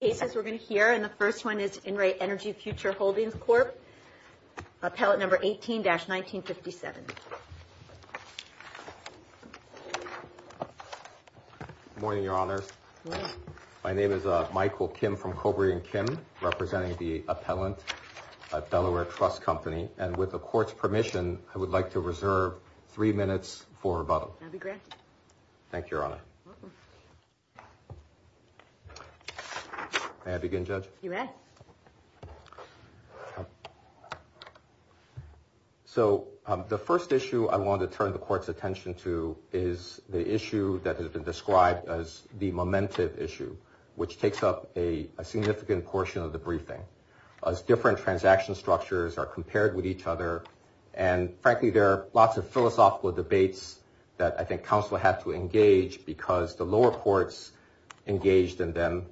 cases we're going to hear and the first one is In Re Energy Future Holdings Corp appellate number 18-1957. Good morning your honors. My name is Michael Kim from Cobra and Kim representing the appellant at Delaware Trust Company and with the court's permission I would like to reserve three minutes for rebuttal. I'll be granted. Thank you your honor. May I begin judge? You may. So the first issue I want to turn the court's attention to is the issue that has been described as the momentum issue which takes up a significant portion of the briefing as different transaction structures are compared with each other and frankly there are lots of philosophical debates that I think counsel had to engage because the lower courts engaged in them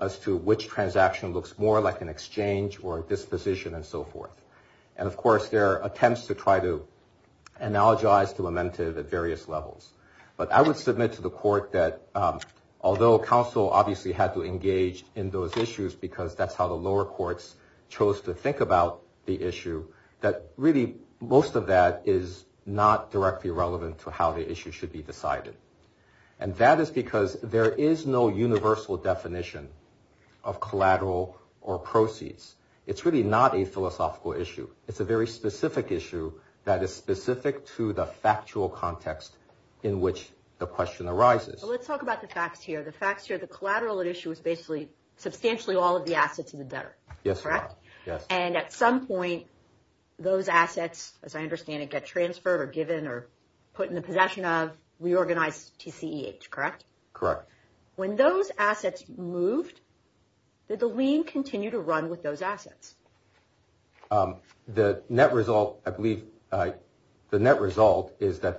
as to which transaction looks more like an exchange or disposition and so forth and of course there are attempts to try to analogize the momentum at various levels but I would submit to the court that although counsel obviously had to engage in those issues because that's how the lower courts chose to think about the issue that really most of that is not directly relevant to how the issue should be decided and that is because there is no universal definition of collateral or proceeds. It's really not a philosophical issue. It's a very specific issue that is specific to the factual context in which the question arises. Let's talk about the facts here. The facts here substantially all of the assets in the debtor. Yes. And at some point those assets as I understand it get transferred or given or put in the possession of reorganized TCEH, correct? Correct. When those assets moved did the lien continue to run with those assets? The net result is that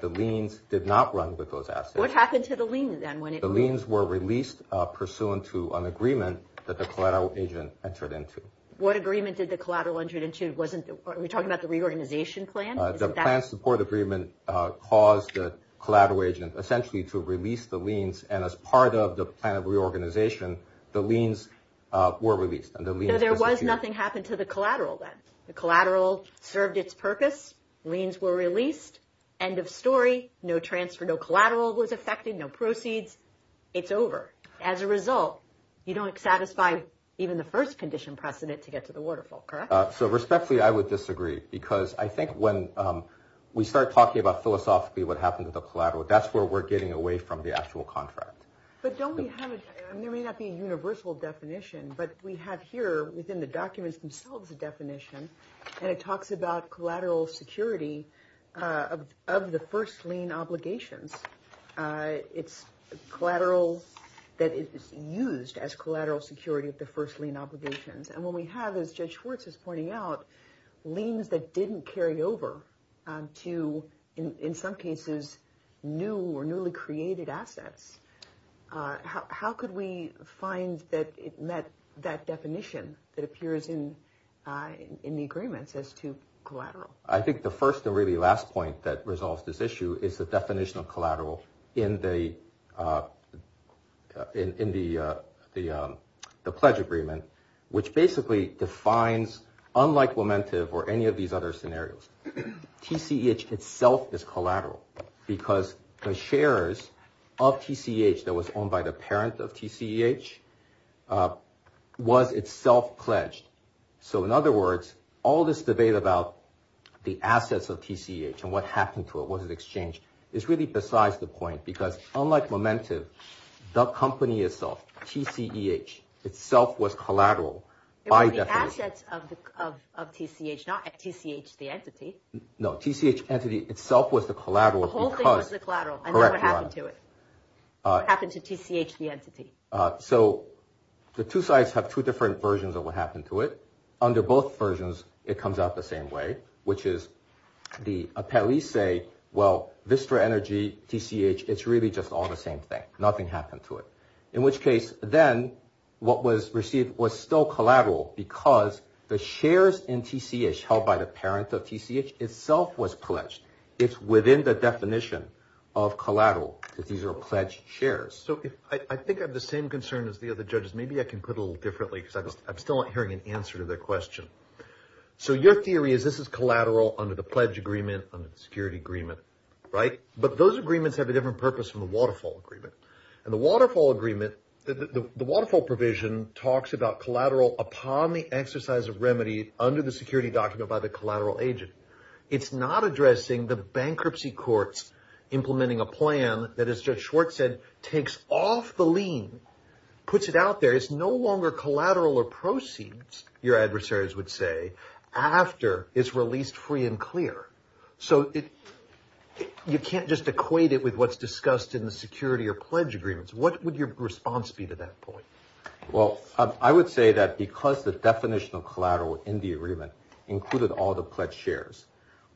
the liens did not run with those assets. What happened to the lien then? The liens were released pursuant to an agreement that the collateral agent entered into. What agreement did the collateral agent enter into? Are we talking about the reorganization plan? The plan support agreement caused the collateral agent essentially to release the liens and as part of the plan of reorganization the liens were released. No, there was nothing happened to the collateral then. The collateral served its purpose, liens were released, end of story, no transfer, no collateral was affected, no proceeds, it's over. As a result you don't satisfy even the first condition precedent to get to the waterfall, correct? So respectfully I would disagree because I think when we start talking about philosophically what happened to the collateral that's where we're getting away from the actual contract. But don't we have, there may not be a universal definition, but we have here within the documents themselves a definition and it talks about collateral security of the first lien obligations. It's collateral that is used as collateral security of the first lien obligations and what we have as Judge Schwartz is pointing out liens that didn't carry over to in some cases new or newly created assets. How could we find that it met that definition that appears in the agreements as to collateral? I think the first and really last point that resolves this issue is the definition of collateral in the pledge agreement which basically defines unlike momentum or any of these other scenarios TCEH itself is collateral because the shares of TCEH that was owned by the parent of TCEH was itself pledged. So in other words all this debate about the assets of TCEH and what happened to it, was it exchanged, is really besides the point because unlike momentum the company itself TCEH itself was collateral by definition. It was the assets of TCEH, not TCEH the entity. No, TCEH entity itself was the collateral. The whole thing was the collateral and that's what happened to it, what happened to TCEH the entity. So the two sides have two different versions of what happened to it. Under both versions it comes out the same way which is the appellees say, well Vistra Energy, TCEH, it's really just all the same thing, nothing happened to it. In which case then what was received was still collateral because the shares in TCEH held by the parent of TCEH itself was pledged. It's within the definition of collateral because these are pledged shares. So I think I have the same concern as the other judges, maybe I can put a little differently because I'm still not hearing an answer to their question. So your theory is this is collateral under the pledge agreement, under the security agreement, right? But those agreements have a different purpose from the waterfall agreement. The waterfall provision talks about collateral upon the exercise of remedy under the security document by the collateral agent. It's not addressing the bankruptcy courts implementing a plan that as Judge Schwartz said, takes off the lien, puts it out there. It's no longer collateral or proceeds, your adversaries would say, after it's released free and clear. So you can't just equate it with what's discussed in the security or pledge agreements. What would your response be to that point? Well, I would say that because the definition of collateral in the agreement included all the pledged shares,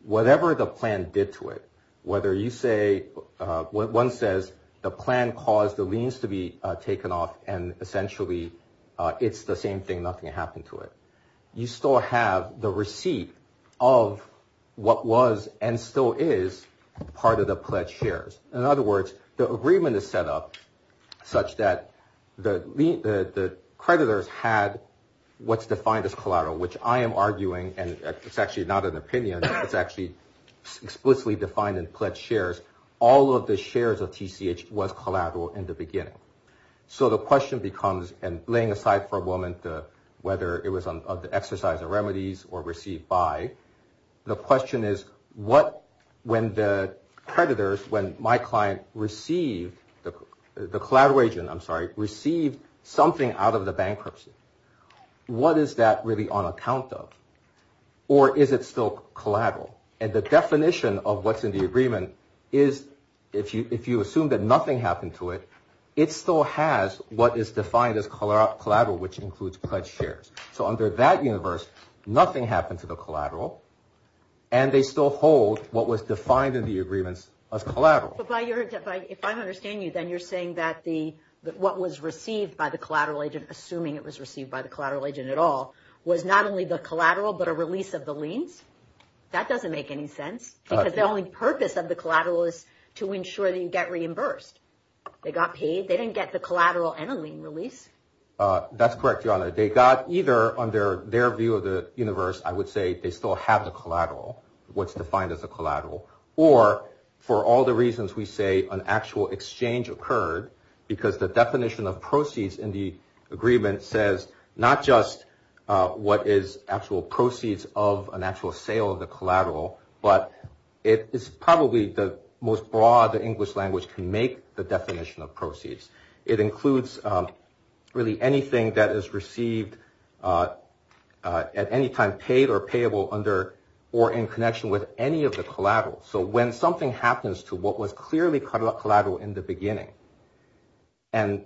whatever the plan did to it, whether you say, one says the plan caused the liens to be taken off and essentially it's the same thing, nothing happened to it. You still have the receipt of what was and still is part of the pledged shares. In other words, the agreement is set up such that the creditors had what's defined as collateral, which I am arguing, and it's actually not an opinion, it's actually explicitly defined in pledged shares. All of the shares of TCH was collateral in the beginning. So the question becomes, and laying aside for a moment, whether it was on the exercise of remedies or received by, the question is, when the creditors, when my client received, the collateral agent, I'm sorry, received something out of the bankruptcy, what is that really on account of? Or is it still collateral? And the definition of what's in the agreement is, if you assume that nothing happened to it, it still has what is defined as collateral, which includes pledged shares. So under that universe, nothing happened to the collateral, and they still hold what was defined in the agreements as collateral. But if I understand you, then you're saying that what was received by the collateral agent, assuming it was received by the collateral agent at all, was not only the collateral, but a release of the liens? That doesn't make any sense, because the only purpose of the collateral is to ensure that you get reimbursed. They got paid, they didn't get the collateral and a lien release. That's correct, Your Honor. They got either, under their view of the universe, I would say they still have the collateral, what's defined as a collateral, or for all the reasons we say, an actual exchange occurred because the definition of proceeds in the agreement says not just what is actual proceeds of an actual sale of the collateral, but it is probably the most broad the English language can make the definition of proceeds. It includes really anything that is received at any time paid or payable under or in connection with any of the collateral. So when something happens to what was clearly collateral in the beginning, and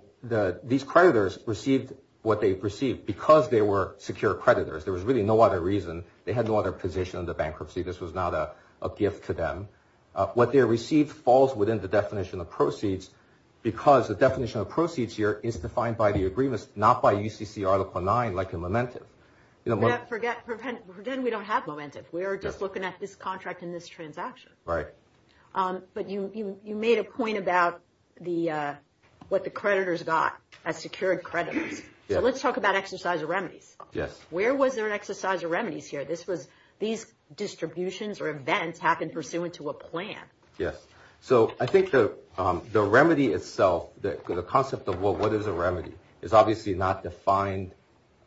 these creditors received what they received because they were secure creditors, there was really no other reason, they had no other position under bankruptcy, this was not a gift to them. What they received falls within the definition of proceeds, because the definition of proceeds here is defined by the agreements, not by UCC Article 9 like in Momentum. Forget we don't have Momentum, we are just looking at this contract in this transaction. Right. But you made a point about what the creditors got as secured creditors. Let's talk about exercise of remedies. Yes. Where was there an exercise of remedies here? These distributions or events happened pursuant to a plan. Yes. So I think the remedy itself, the concept of what is a remedy is obviously not defined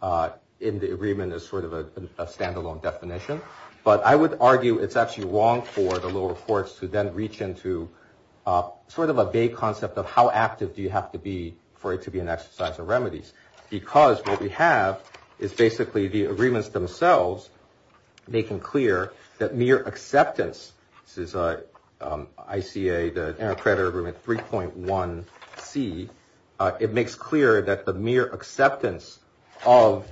in the agreement as sort of a standalone definition, but I would argue it is actually wrong for the lower courts to then reach into sort of a vague concept of how active do you have to be for it to be an exercise of remedies, because what we have is basically the agreements themselves making clear that mere acceptance, this is ICA, the Intercreditor Agreement 3.1C, it makes clear that the mere acceptance of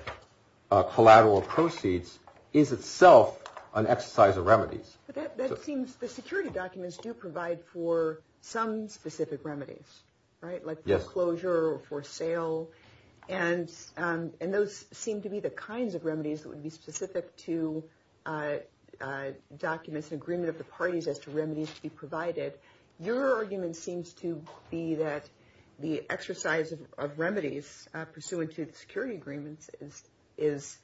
collateral proceeds is itself an exercise of remedies. That seems the security documents do provide for some specific remedies, right? Yes. Like foreclosure, for sale, and those seem to be the kinds of remedies that would be specific to documents and agreement of the parties as to remedies to be provided. Your argument seems to be that the exercise of remedies pursuant to the security agreements is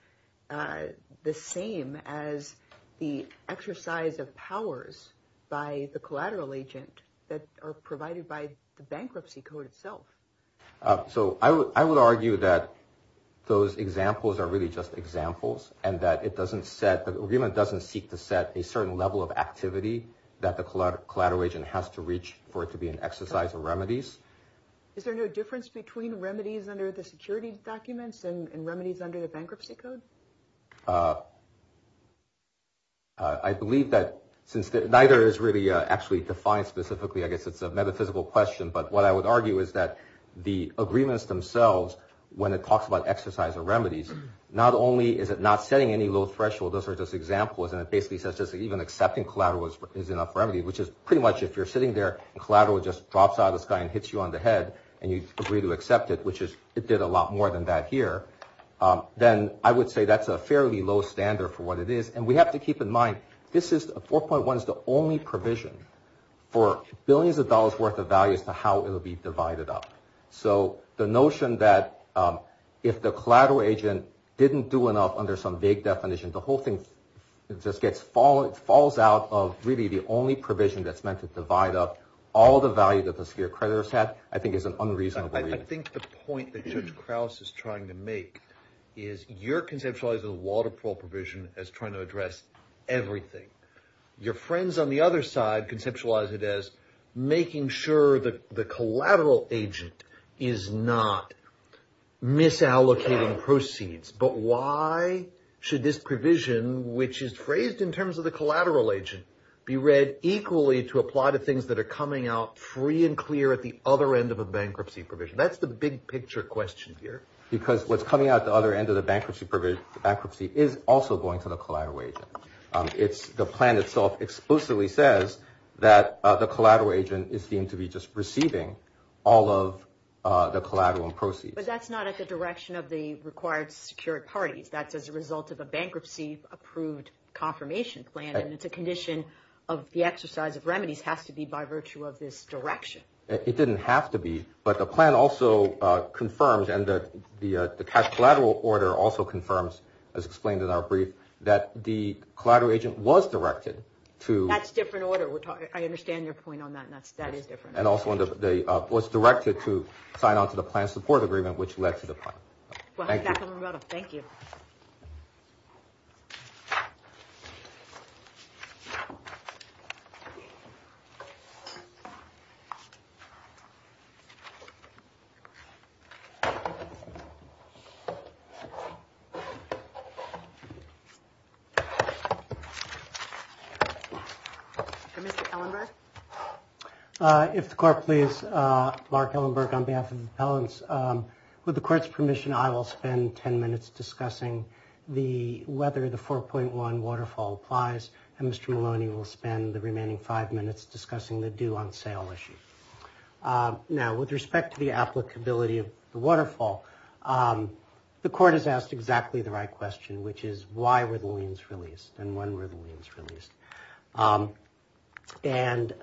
the same as the exercise of powers by the collateral agent that are provided by the bankruptcy code itself. So I would argue that those examples are really just examples and that the agreement doesn't seek to set a certain level of activity that the collateral agent has to reach for it to be an exercise of remedies. Is there no difference between remedies under the security documents and remedies under the bankruptcy code? I believe that since neither is really actually defined specifically, I guess it's a metaphysical question, but what I would argue is that the agreements themselves, when it talks about exercise of remedies, not only is it not setting any low threshold, those are just examples, and it basically says just even accepting collateral is enough remedy, which is pretty much if you're sitting there and collateral just drops out of the sky and hits you on the head and you agree to accept it, which is it did a lot more than that here, then I would say that's a fairly low standard for what it is. And we have to keep in mind, this is a 4.1 is the only provision for billions of dollars worth of values to how it will be divided up. So the notion that if the collateral agent didn't do enough under some big definition, the whole thing just falls out of really the only provision that's meant to divide up all the value that the severe creditors had, I think is an unreasonable reason. I think the point that Judge Krauss is trying to make is you're conceptualizing the water parole provision as trying to address everything. Your friends on the other side conceptualize it as making sure that the collateral agent is not misallocating proceeds, but why should this provision, which is phrased in terms of the collateral agent, be read equally to apply to free and clear at the other end of a bankruptcy provision? That's the big picture question here. Because what's coming out the other end of the bankruptcy is also going to the collateral agent. The plan itself explicitly says that the collateral agent is deemed to be just receiving all of the collateral and proceeds. But that's not at the direction of the required secured parties. That's as a result of a bankruptcy approved confirmation plan, it's a condition of the exercise of remedies has to be by virtue of this direction. It didn't have to be, but the plan also confirms and the collateral order also confirms, as explained in our brief, that the collateral agent was directed to... That's a different order. I understand your point on that. That is different. And also was directed to sign on to the plan support agreement, which led to the plan. Thank you. Mr. Hellenberg? If the court please, Mark Hellenberg on behalf of the appellants. With the court's permission, I will spend 10 minutes discussing whether the 4.1 waterfall applies and Mr. Maloney will spend the remaining five minutes discussing the due on sale issue. Now, with respect to the applicability of the waterfall, the court has asked exactly the right question, which is why were the liens released and when were the liens released? And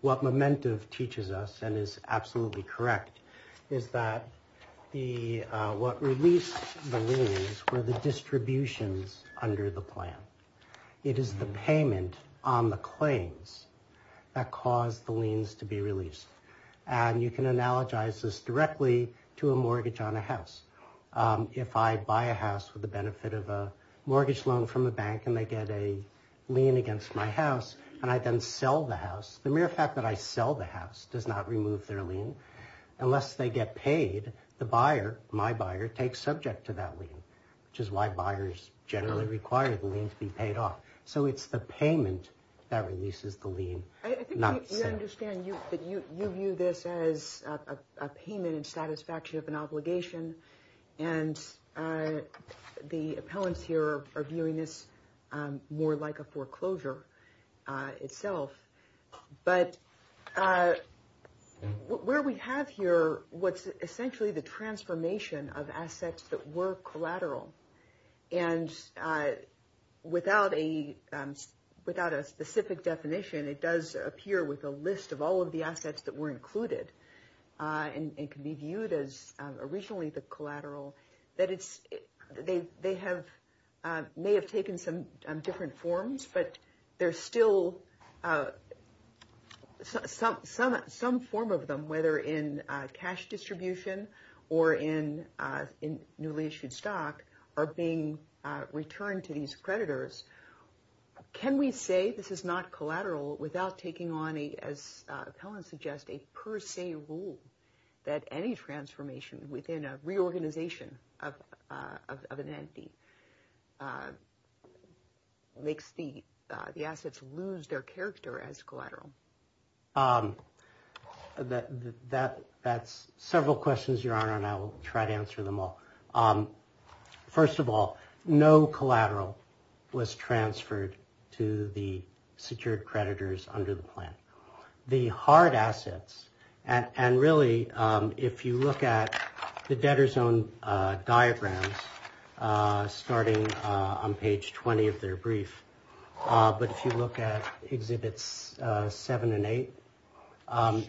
what Momentum teaches us and is absolutely correct is that what released the liens were the distributions under the plan. It is the payment on the claims that caused the liens to be released. And you can analogize this directly to a mortgage on a house. If I buy a house with the benefit of a mortgage loan from a bank and they get a lien against my house and I then sell the house, the mere fact that I sell the house does not remove their lien. Unless they get paid, the buyer, my buyer, takes subject to that lien, which is why buyers generally require the lien to be paid off. So it's the payment that releases the lien. I think you understand that you view this as a payment in satisfaction of an obligation. And the appellants here are viewing this more like a foreclosure itself. But where we have here what's essentially the transformation of assets that were collateral. And without a specific definition, it does appear with a list of all of the assets that were included. And it can be viewed as originally the collateral. They may have taken some different forms, but there's still some form of them, whether in cash distribution or in newly issued stock, are being returned to these creditors. Can we say this is not collateral without taking on, as appellants suggest, a per se rule that any transformation within a organization of an entity makes the assets lose their character as collateral? That's several questions, Your Honor, and I will try to answer them all. First of all, no collateral was transferred to the secured creditors under the plan. The hard assets, and really, if you look at the debtor's own diagrams, starting on page 20 of their brief, but if you look at Exhibits 7 and 8,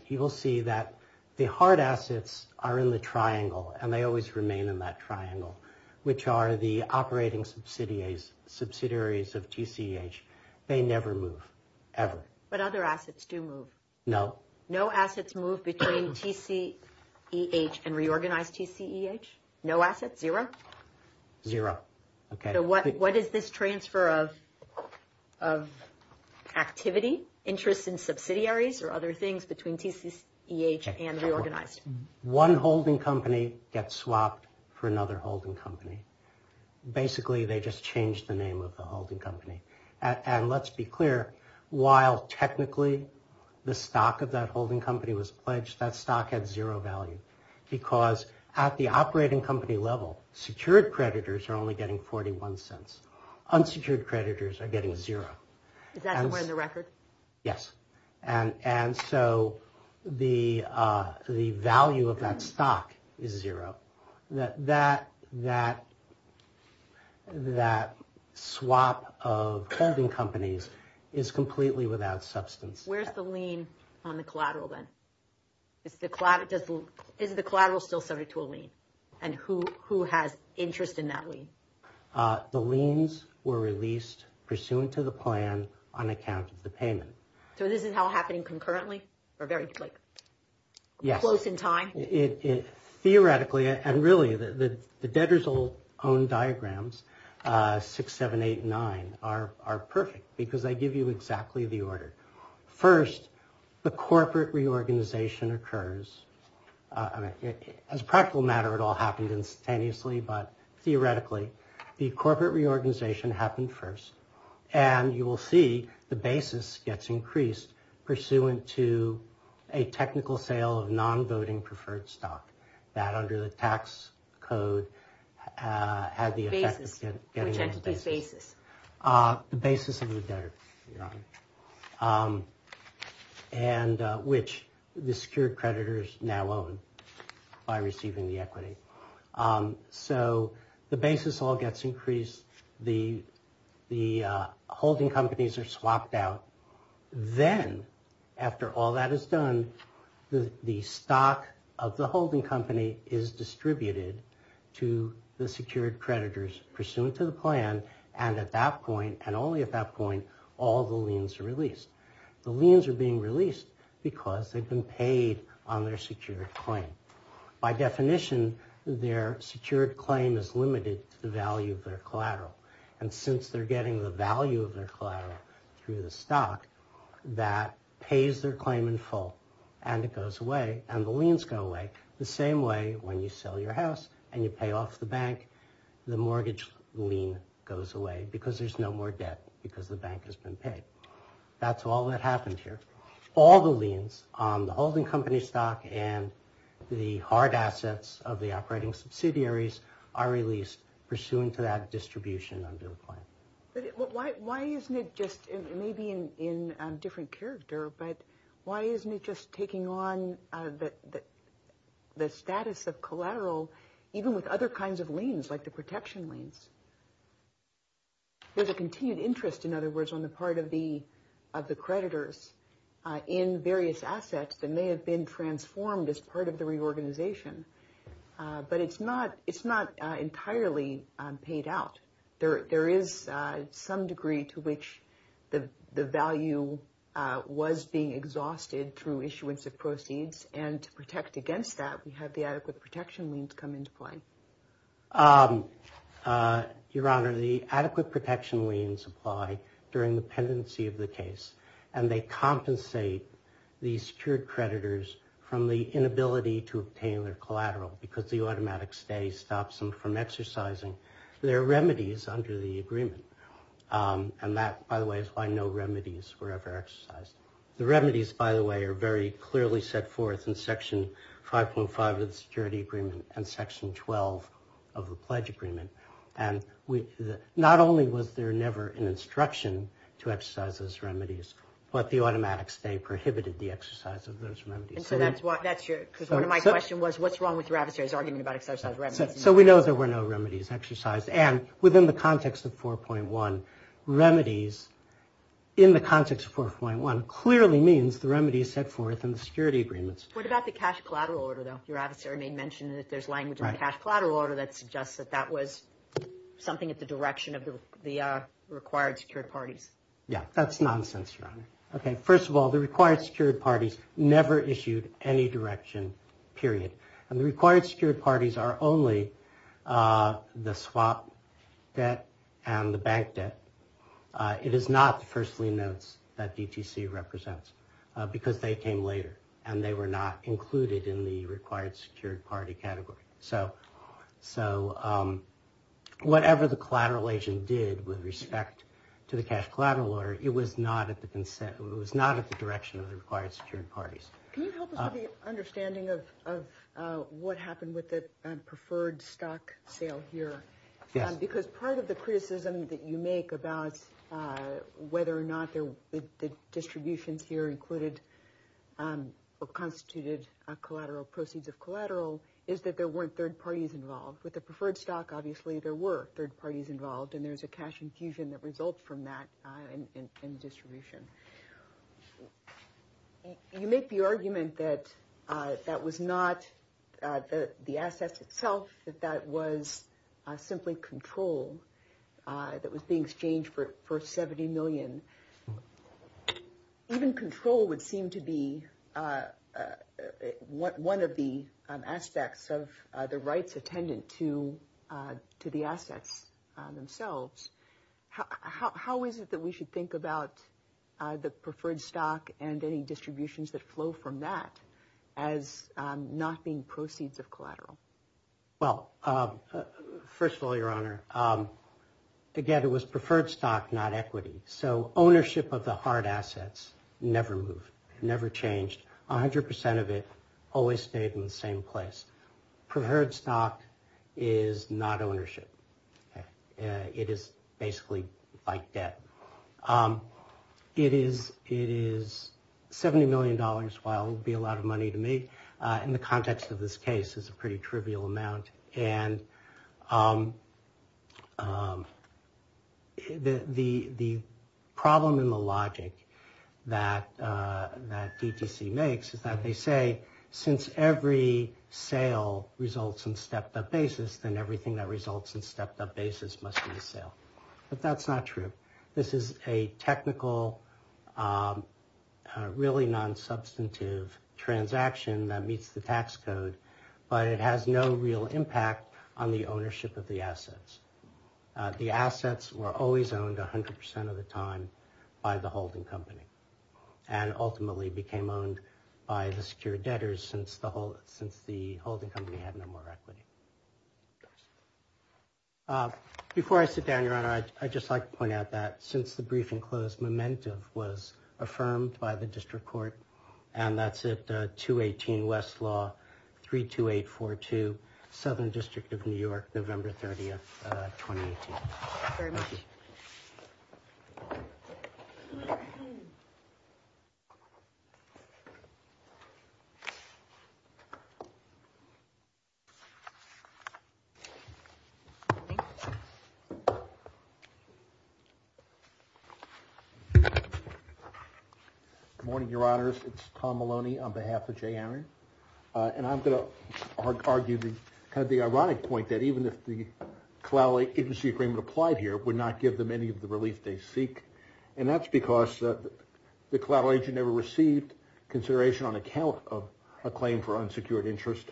you will see that the hard assets are in the triangle, and they always remain in that triangle, which are the operating subsidiaries of TCEH. They never move, ever. But other assets do move? No. No assets move between TCEH and reorganized TCEH? No assets? Zero? Zero. Okay. So what is this transfer of activity, interest in subsidiaries or other things between TCEH and reorganized? One holding company gets swapped for another holding company. Basically, they just change the name of the holding company. And let's be clear, while technically the stock of that holding company was pledged, that stock had zero value, because at the operating company level, secured creditors are only getting 41 cents. Unsecured creditors are getting zero. Is that somewhere in the record? Yes. And so the value of that stock is zero. That swap of holding companies is completely without substance. Where's the lien on the collateral then? Is the collateral still subject to a lien, and who has interest in that lien? The liens were released pursuant to the plan on account of the payment. So this is all happening concurrently, or very close in time? Theoretically, and really, the debtor's own diagrams, 6, 7, 8, 9, are perfect, because they give you exactly the order. First, the corporate reorganization occurs. As a practical matter, it all happened instantaneously, but theoretically, the corporate reorganization happened first. And you will see the basis gets increased pursuant to a technical sale of non-voting preferred stock that, under the tax code, had the effect of getting the basis. Which entity's basis? The basis of the debtor, which the secured creditors now own by receiving the equity. So the basis all gets increased. The holding companies are swapped out. Then, after all that is done, the stock of the holding company is distributed to the secured creditors, pursuant to the plan, and at that point, and only at that point, all the liens are released. The liens are being released because they've been paid on their secured claim. By definition, their secured claim is limited to the value of their collateral. And since they're getting the value of their collateral through the stock, that pays their claim in full, and it goes away, and the liens go away, the same way when you sell your house and you pay off the bank, the mortgage lien goes away, because there's no more debt, because the bank has been paid. That's all that happened here. All the liens on the holding company stock and the hard assets of the operating subsidiaries are released, pursuant to that distribution under the plan. But why isn't it just, maybe in a different character, but why isn't it just taking on the status of collateral, even with other kinds of liens, like the protection liens? There's a continued interest, in other words, on the part of the creditors in various assets that it's not entirely paid out. There is some degree to which the value was being exhausted through issuance of proceeds, and to protect against that, we have the adequate protection liens come into play. Your Honor, the adequate protection liens apply during the pendency of the case, and they compensate the secured creditors from the inability to obtain their collateral, because the automatic stay stops them from exercising their remedies under the agreement. And that, by the way, is why no remedies were ever exercised. The remedies, by the way, are very clearly set forth in Section 5.5 of the Security Agreement and Section 12 of the Pledge Agreement. And not only was there never an instruction to exercise those remedies, but the automatic stay prohibited the exercise of those remedies. Because one of my questions was, what's wrong with your adversary's argument about exercise remedies? So we know there were no remedies exercised, and within the context of 4.1, remedies, in the context of 4.1, clearly means the remedies set forth in the security agreements. What about the cash collateral order, though? Your adversary may mention that there's language in the cash collateral order that suggests that that was something at the direction of the required secured parties. Yeah, that's nonsense, Your Honor. Okay, first of all, the required secured parties never issued any direction, period. And the required secured parties are only the swap debt and the bank debt. It is not the firstly notes that DTC represents, because they came later, and they were not included in the required secured party category. So whatever the collateral agent did with respect to the cash collateral order, it was not at the direction of the required secured parties. Can you help us with the understanding of what happened with the preferred stock sale here? Yes. Because part of the criticism that you make about whether or not the distributions here included or constituted collateral proceeds of collateral is that there weren't third parties involved. With the preferred stock, obviously, there were third parties involved, and there's a cash infusion that results from that in distribution. You make the argument that that was not the assets itself, that that was simply control that was being exchanged for 70 million. Even control would seem to be one of the aspects of the rights attendant to the assets themselves. How is it that we should think about the preferred stock and any distributions that flow from that as not being proceeds of collateral? Well, first of all, Your Honor, again, it was preferred stock, not equity. So ownership of the hard assets never moved, never changed. 100% of it always stayed in the same place. Preferred stock is not ownership. Okay. It is basically like debt. It is $70 million while it would be a lot of money to make. In the context of this case, it's a pretty trivial amount. And the problem in the logic that DTC makes is that they say, since every sale results in stepped up basis, must be a sale. But that's not true. This is a technical, really non-substantive transaction that meets the tax code, but it has no real impact on the ownership of the assets. The assets were always owned 100% of the time by the holding company, and ultimately became owned by the secure debtors since the holding company had no more equity. Before I sit down, Your Honor, I'd just like to point out that since the briefing closed, momentum was affirmed by the district court. And that's at 218 Westlaw, 32842, Southern District of New York, November 30th, 2018. Good morning, Your Honors. It's Tom Maloney on behalf of Jay Aaron. And I'm going to argue the kind of the ironic point that even if the collateral agency agreement applied here would not give them any of the relief they seek. And that's because the collateral agent never received consideration on account of a claim for unsecured interest.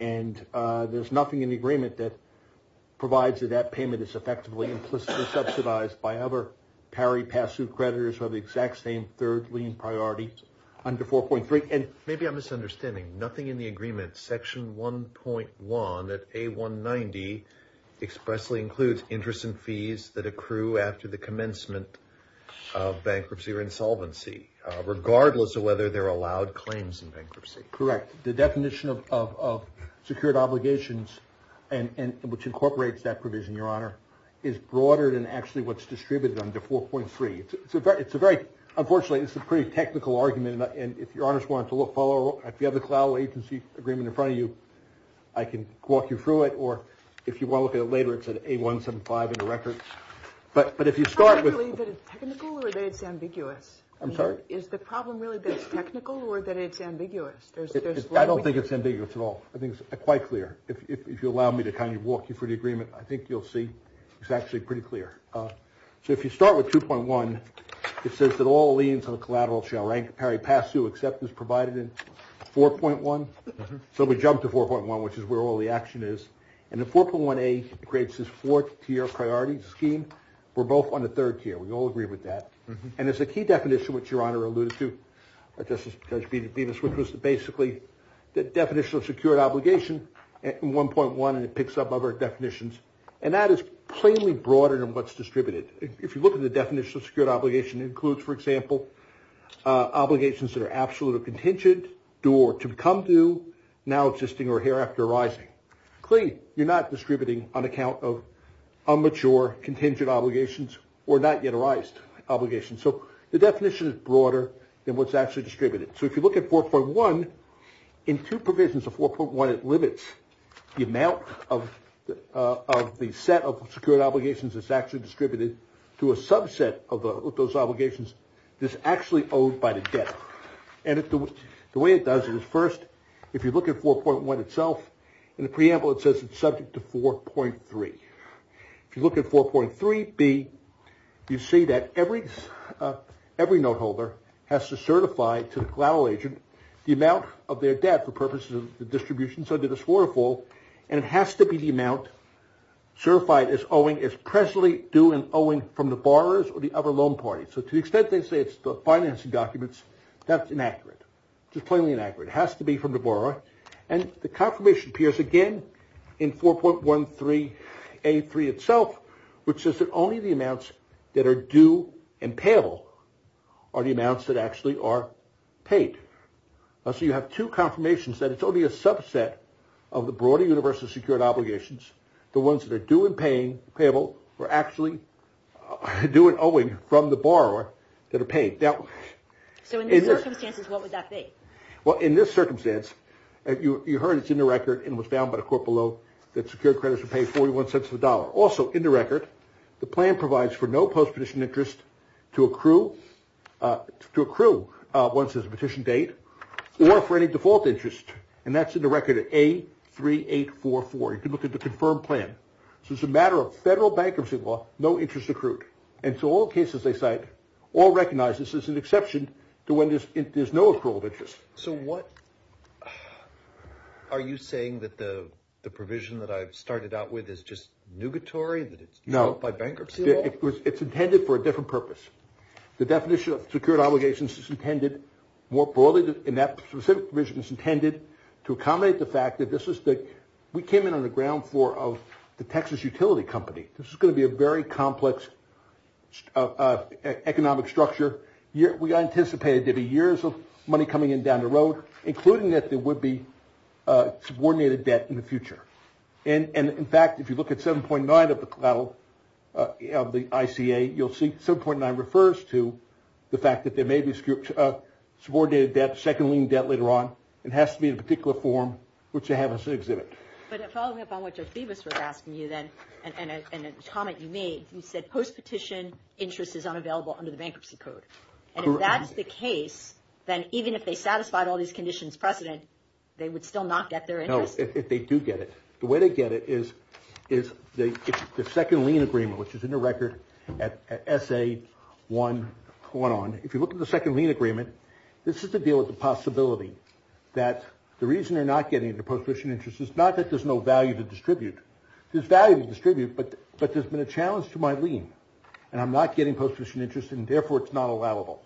And there's nothing in the agreement that provides that that payment is effectively implicitly subsidized by other pari pass suit creditors who have the exact same third lien priority under 4.3. And maybe I'm misunderstanding, nothing in the agreement section 1.1 at A190 expressly includes interest and fees that accrue after the commencement of bankruptcy or insolvency, regardless of whether they're allowed claims in bankruptcy. The definition of secured obligations, which incorporates that provision, Your Honor, is broader than actually what's distributed under 4.3. It's a very, unfortunately, it's a pretty technical argument. And if Your Honors want to follow up, if you have the collateral agency agreement in front of you, I can walk you through it. Or if you want to look at it later, it's at A175 in the record. But if you start with... Is the problem really that it's technical or that it's ambiguous? I don't think it's ambiguous at all. I think it's quite clear. If you allow me to kind of walk you through the agreement, I think you'll see it's actually pretty clear. So if you start with 2.1, it says that all liens on the collateral shall rank pari pass suit except as provided in 4.1. So we jump to 4.1, which is where all the action is. And the 4.1a creates this fourth tier priority scheme. We're both on the third tier. We all agree with that. And it's a key definition, which Your Honor alluded to, Justice Judge Bemis, which was basically the definition of secured obligation in 1.1, and it picks up other definitions. And that is plainly broader than what's distributed. If you look at the definition of secured obligation, it includes, for example, obligations that are absolute or contingent, due or to become due, now existing or hereafter arising. Clearly, you're not distributing on So the definition is broader than what's actually distributed. So if you look at 4.1, in two provisions of 4.1, it limits the amount of the set of secured obligations that's actually distributed to a subset of those obligations that's actually owed by the debt. And the way it does it is first, if you look at 4.1 itself, in the preamble, it says it's subject to 4.3. If you look at 4.3b, you see that every note holder has to certify to the collateral agent the amount of their debt for purposes of the distribution, so to the swore or fall, and it has to be the amount certified as owing is presently due and owing from the borrowers or the other loan parties. So to the extent they say it's the financing documents, that's inaccurate, just plainly inaccurate. It has to be from the borrower. And the confirmation appears again in 4.13a3 itself, which says that only the amounts that are due and payable are the amounts that actually are paid. So you have two confirmations that it's only a subset of the broader universal secured obligations. The ones that are due and payable are actually due and owing from the borrower that are paid. So in these circumstances, what would that be? Well, in this circumstance, you heard it's in the record and was found by the court below that secured credits are paid $0.41. Also in the record, the plan provides for no post-petition interest to accrue once there's a petition date or for any default interest, and that's in the record at A3844. You can look at the confirmed plan. So it's a matter of federal bankruptcy law, no interest accrued. And so all cases they cite all recognize this as an exception to when there's no accrual of interest. Are you saying that the provision that I've started out with is just nugatory, that it's developed by bankruptcy law? No, it's intended for a different purpose. The definition of secured obligations is intended more broadly in that specific provision is intended to accommodate the fact that we came in on the ground floor of the Texas utility company. This is going to be a very complex economic structure. We anticipated there'd be years of money coming in down the road, including that there would be subordinated debt in the future. And in fact, if you look at 7.9 of the ICA, you'll see 7.9 refers to the fact that there may be subordinated debt, second lien debt later on. It has to be in a particular form, which they have us exhibit. But following up on what Judge Bevis was asking you then, and a comment you made, you said post-petition interest is unavailable under the bankruptcy code. And if that's the case, then even if they satisfied all these conditions precedent, they would still not get their interest? No, if they do get it. The way they get it is the second lien agreement, which is in the record at SA1 on. If you look at the second lien agreement, this is to deal with the possibility that the reason they're not getting the post-petition interest is not that there's no value to distribute. There's value to distribute, but there's been a challenge to my lien, and I'm not getting post-petition interest, and therefore it's not allowable.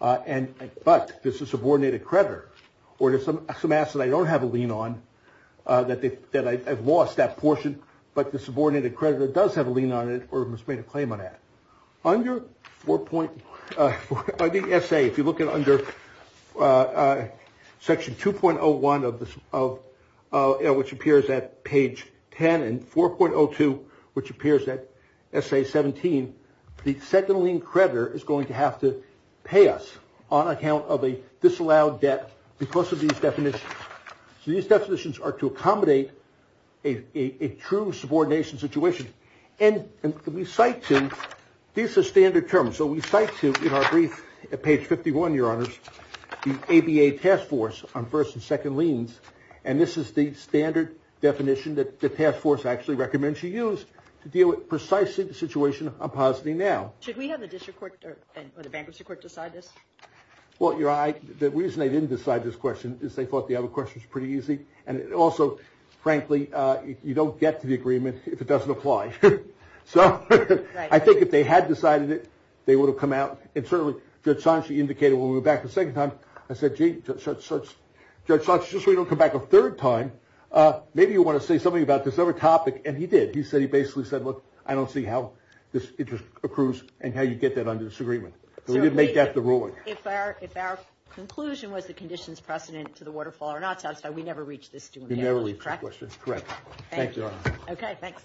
But there's a subordinated creditor, or there's some assets I don't have a lien on that I've lost that portion, but the subordinated creditor does have a lien on it or has made a claim on that. Under the SA, if you look at under section 2.01, which appears at page 10, and 4.02, which appears at SA17, the second lien creditor is going to have to pay us on account of a disallowed debt because of these definitions. So these definitions are to accommodate a true subordination situation. And we cite to, these are standard terms, so we cite to, in our brief at page 51, your honors, the ABA task force on first and second liens, and this is the standard definition that the task force actually recommends you use to deal with precisely the situation I'm positing now. Should we have the district court or the bankruptcy court decide this? Well, your honor, the reason they didn't decide this question is they thought the other question was pretty easy, and also, frankly, you don't get to the agreement if it doesn't apply. So I think if they had decided it, they would have come out, and certainly Judge Sanchez indicated when we went back the second time, I said, Judge Sanchez, just so we don't come back a third time, maybe you want to say something about this other topic, and he did. He said, he basically said, look, I don't see how this interest accrues and how you get that under this agreement. So we didn't make that the ruling. If our conclusion was the condition's precedent to the waterfall or not satisfied, we never reached this, correct? We never reached the question, correct. Thank you, your honor. Okay, thanks.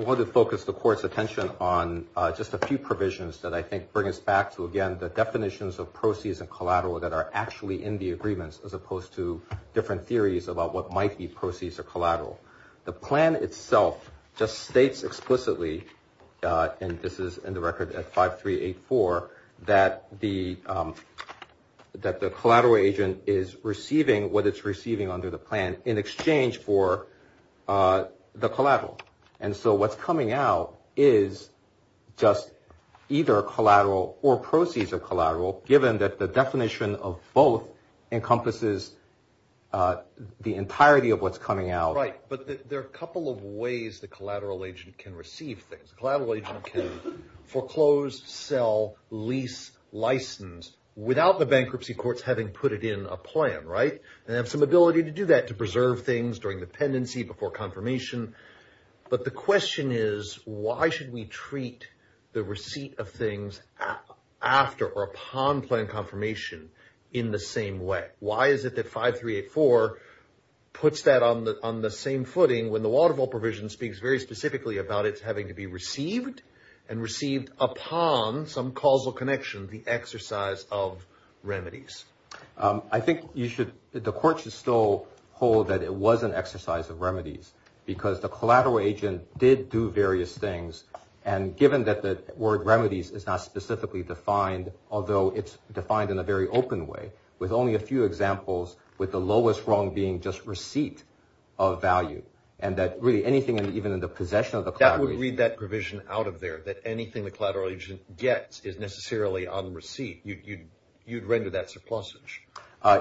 I wanted to focus the court's attention on just a few provisions that I think bring us back to, again, the definitions of proceeds and collateral that are actually in the agreements, as opposed to different theories about what might be proceeds or collateral. The plan itself just states explicitly, and this is in the record at 5384, that the collateral agent is receiving what it's receiving under the plan in exchange for the collateral, and so what's coming out is just either collateral or proceeds of collateral, given that the definition of both encompasses the entirety of what's coming out. Right, but there are a couple of ways the collateral agent can receive things. Collateral agent can foreclose, sell, lease, license without the bankruptcy courts having put it in a plan, right, and have some ability to do that, to preserve things during dependency before confirmation. But the question is, why should we treat the receipt of things after or upon plan confirmation in the same way? Why is it that 5384 puts that on the same footing when the Waterville provision speaks very specifically about it having to be received and received upon some causal connection, the exercise of remedies? I think you should, the court should still hold that it was an exercise of remedies, because the collateral agent did do various things, and given that the word remedies is not specifically defined, although it's defined in a very open way, with only a few examples, with the lowest wrong being just receipt of value, and that really anything even in the possession of the collateral agent... That would read that provision out of there, that anything the collateral agent gets is necessarily on receipt. You'd render that surplusage.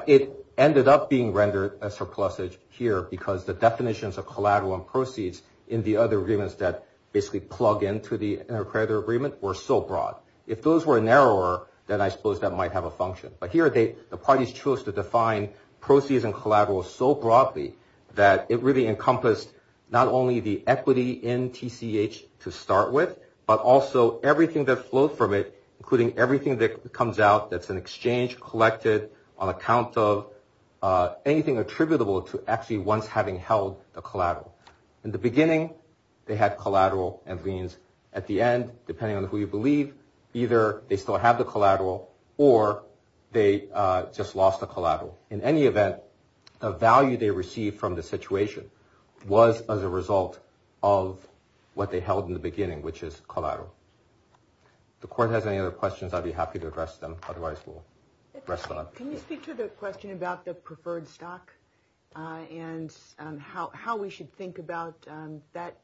It ended up being rendered a surplusage here because the definitions of collateral and proceeds in the other agreements that basically plug into the inter-creditor agreement were so broad. If those were narrower, then I suppose that might have a function. But here, the parties chose to define proceeds and collaterals so broadly that it really encompassed not only the equity in TCH to start with, but also everything that flowed from it, including everything that comes out that's an exchange collected on account of anything attributable to actually once having held the collateral. In the beginning, they had collateral and liens. At the end, depending on who you believe, either they still have the collateral or they just lost the collateral. In any event, the value they received from the situation was as a result of what they held in the beginning, which is collateral. If the court has any other questions, I'd be happy to address them. Otherwise, we'll rest on... Can you speak to the question about the preferred stock and how we should think about that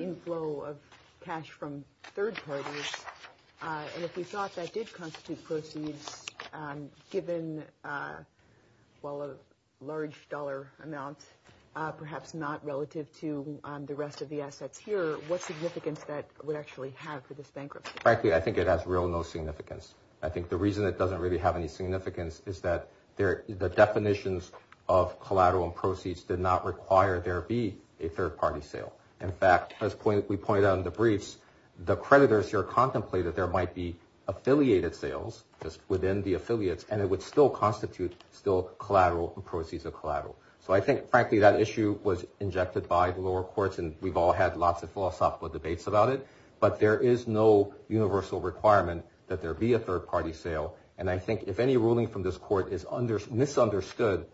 inflow of constitute proceeds given, well, a large dollar amount, perhaps not relative to the rest of the assets here. What's the significance that would actually have for this bankruptcy? Frankly, I think it has real no significance. I think the reason it doesn't really have any significance is that the definitions of collateral and proceeds did not require there be a third party sale. In fact, as we pointed out in the briefs, the creditors here contemplated there might be affiliated sales just within the affiliates, and it would still constitute still collateral and proceeds of collateral. I think, frankly, that issue was injected by the lower courts and we've all had lots of philosophical debates about it, but there is no universal requirement that there be a third party sale. I think if any ruling from this court is misunderstood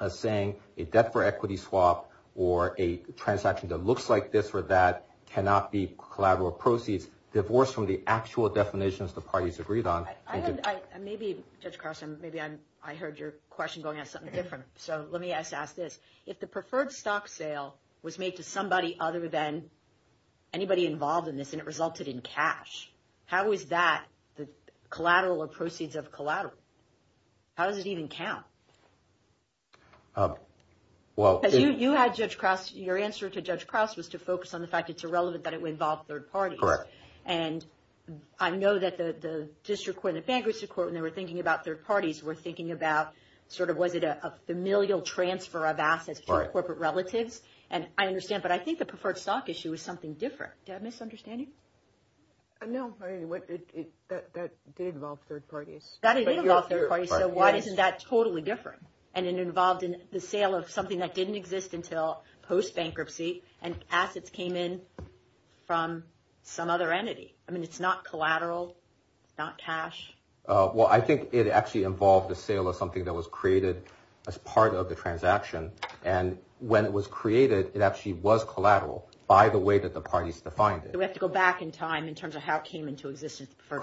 as saying a debt for equity swap or a transaction that looks like this or that cannot be collateral proceeds divorced from the actual definitions the parties agreed on. Maybe, Judge Krause, maybe I heard your question going at something different, so let me ask this. If the preferred stock sale was made to somebody other than anybody involved in this and it resulted in cash, how is that the collateral or proceeds of collateral? How does it even count? You had, Judge Krause, your answer to Judge Krause was to focus on the fact it's irrelevant that it would involve third parties. Correct. And I know that the district court and the bankruptcy court, when they were thinking about third parties, were thinking about, sort of, was it a familial transfer of assets to corporate relatives? And I understand, but I think the preferred stock issue was something different. Do I have a misunderstanding? No, that did involve third parties. That did involve third parties, so why isn't that totally different? And it involved the sale of something that didn't exist until post-bankruptcy and assets came in from some other entity. I mean, it's not collateral, it's not cash. Well, I think it actually involved the sale of something that was created as part of the transaction. And when it was created, it actually was collateral by the way that the parties defined it. We have to go back in time in terms of how it came into existence for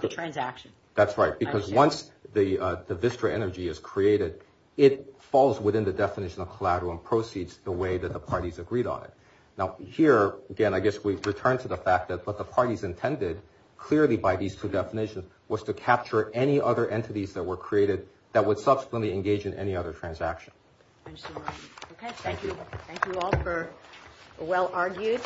the transaction. That's right, because once the Vistra energy is created, it falls within the definition of agreed on it. Now, here, again, I guess we return to the fact that what the parties intended, clearly by these two definitions, was to capture any other entities that were created that would subsequently engage in any other transaction. Okay, thank you. Thank you all for well argued.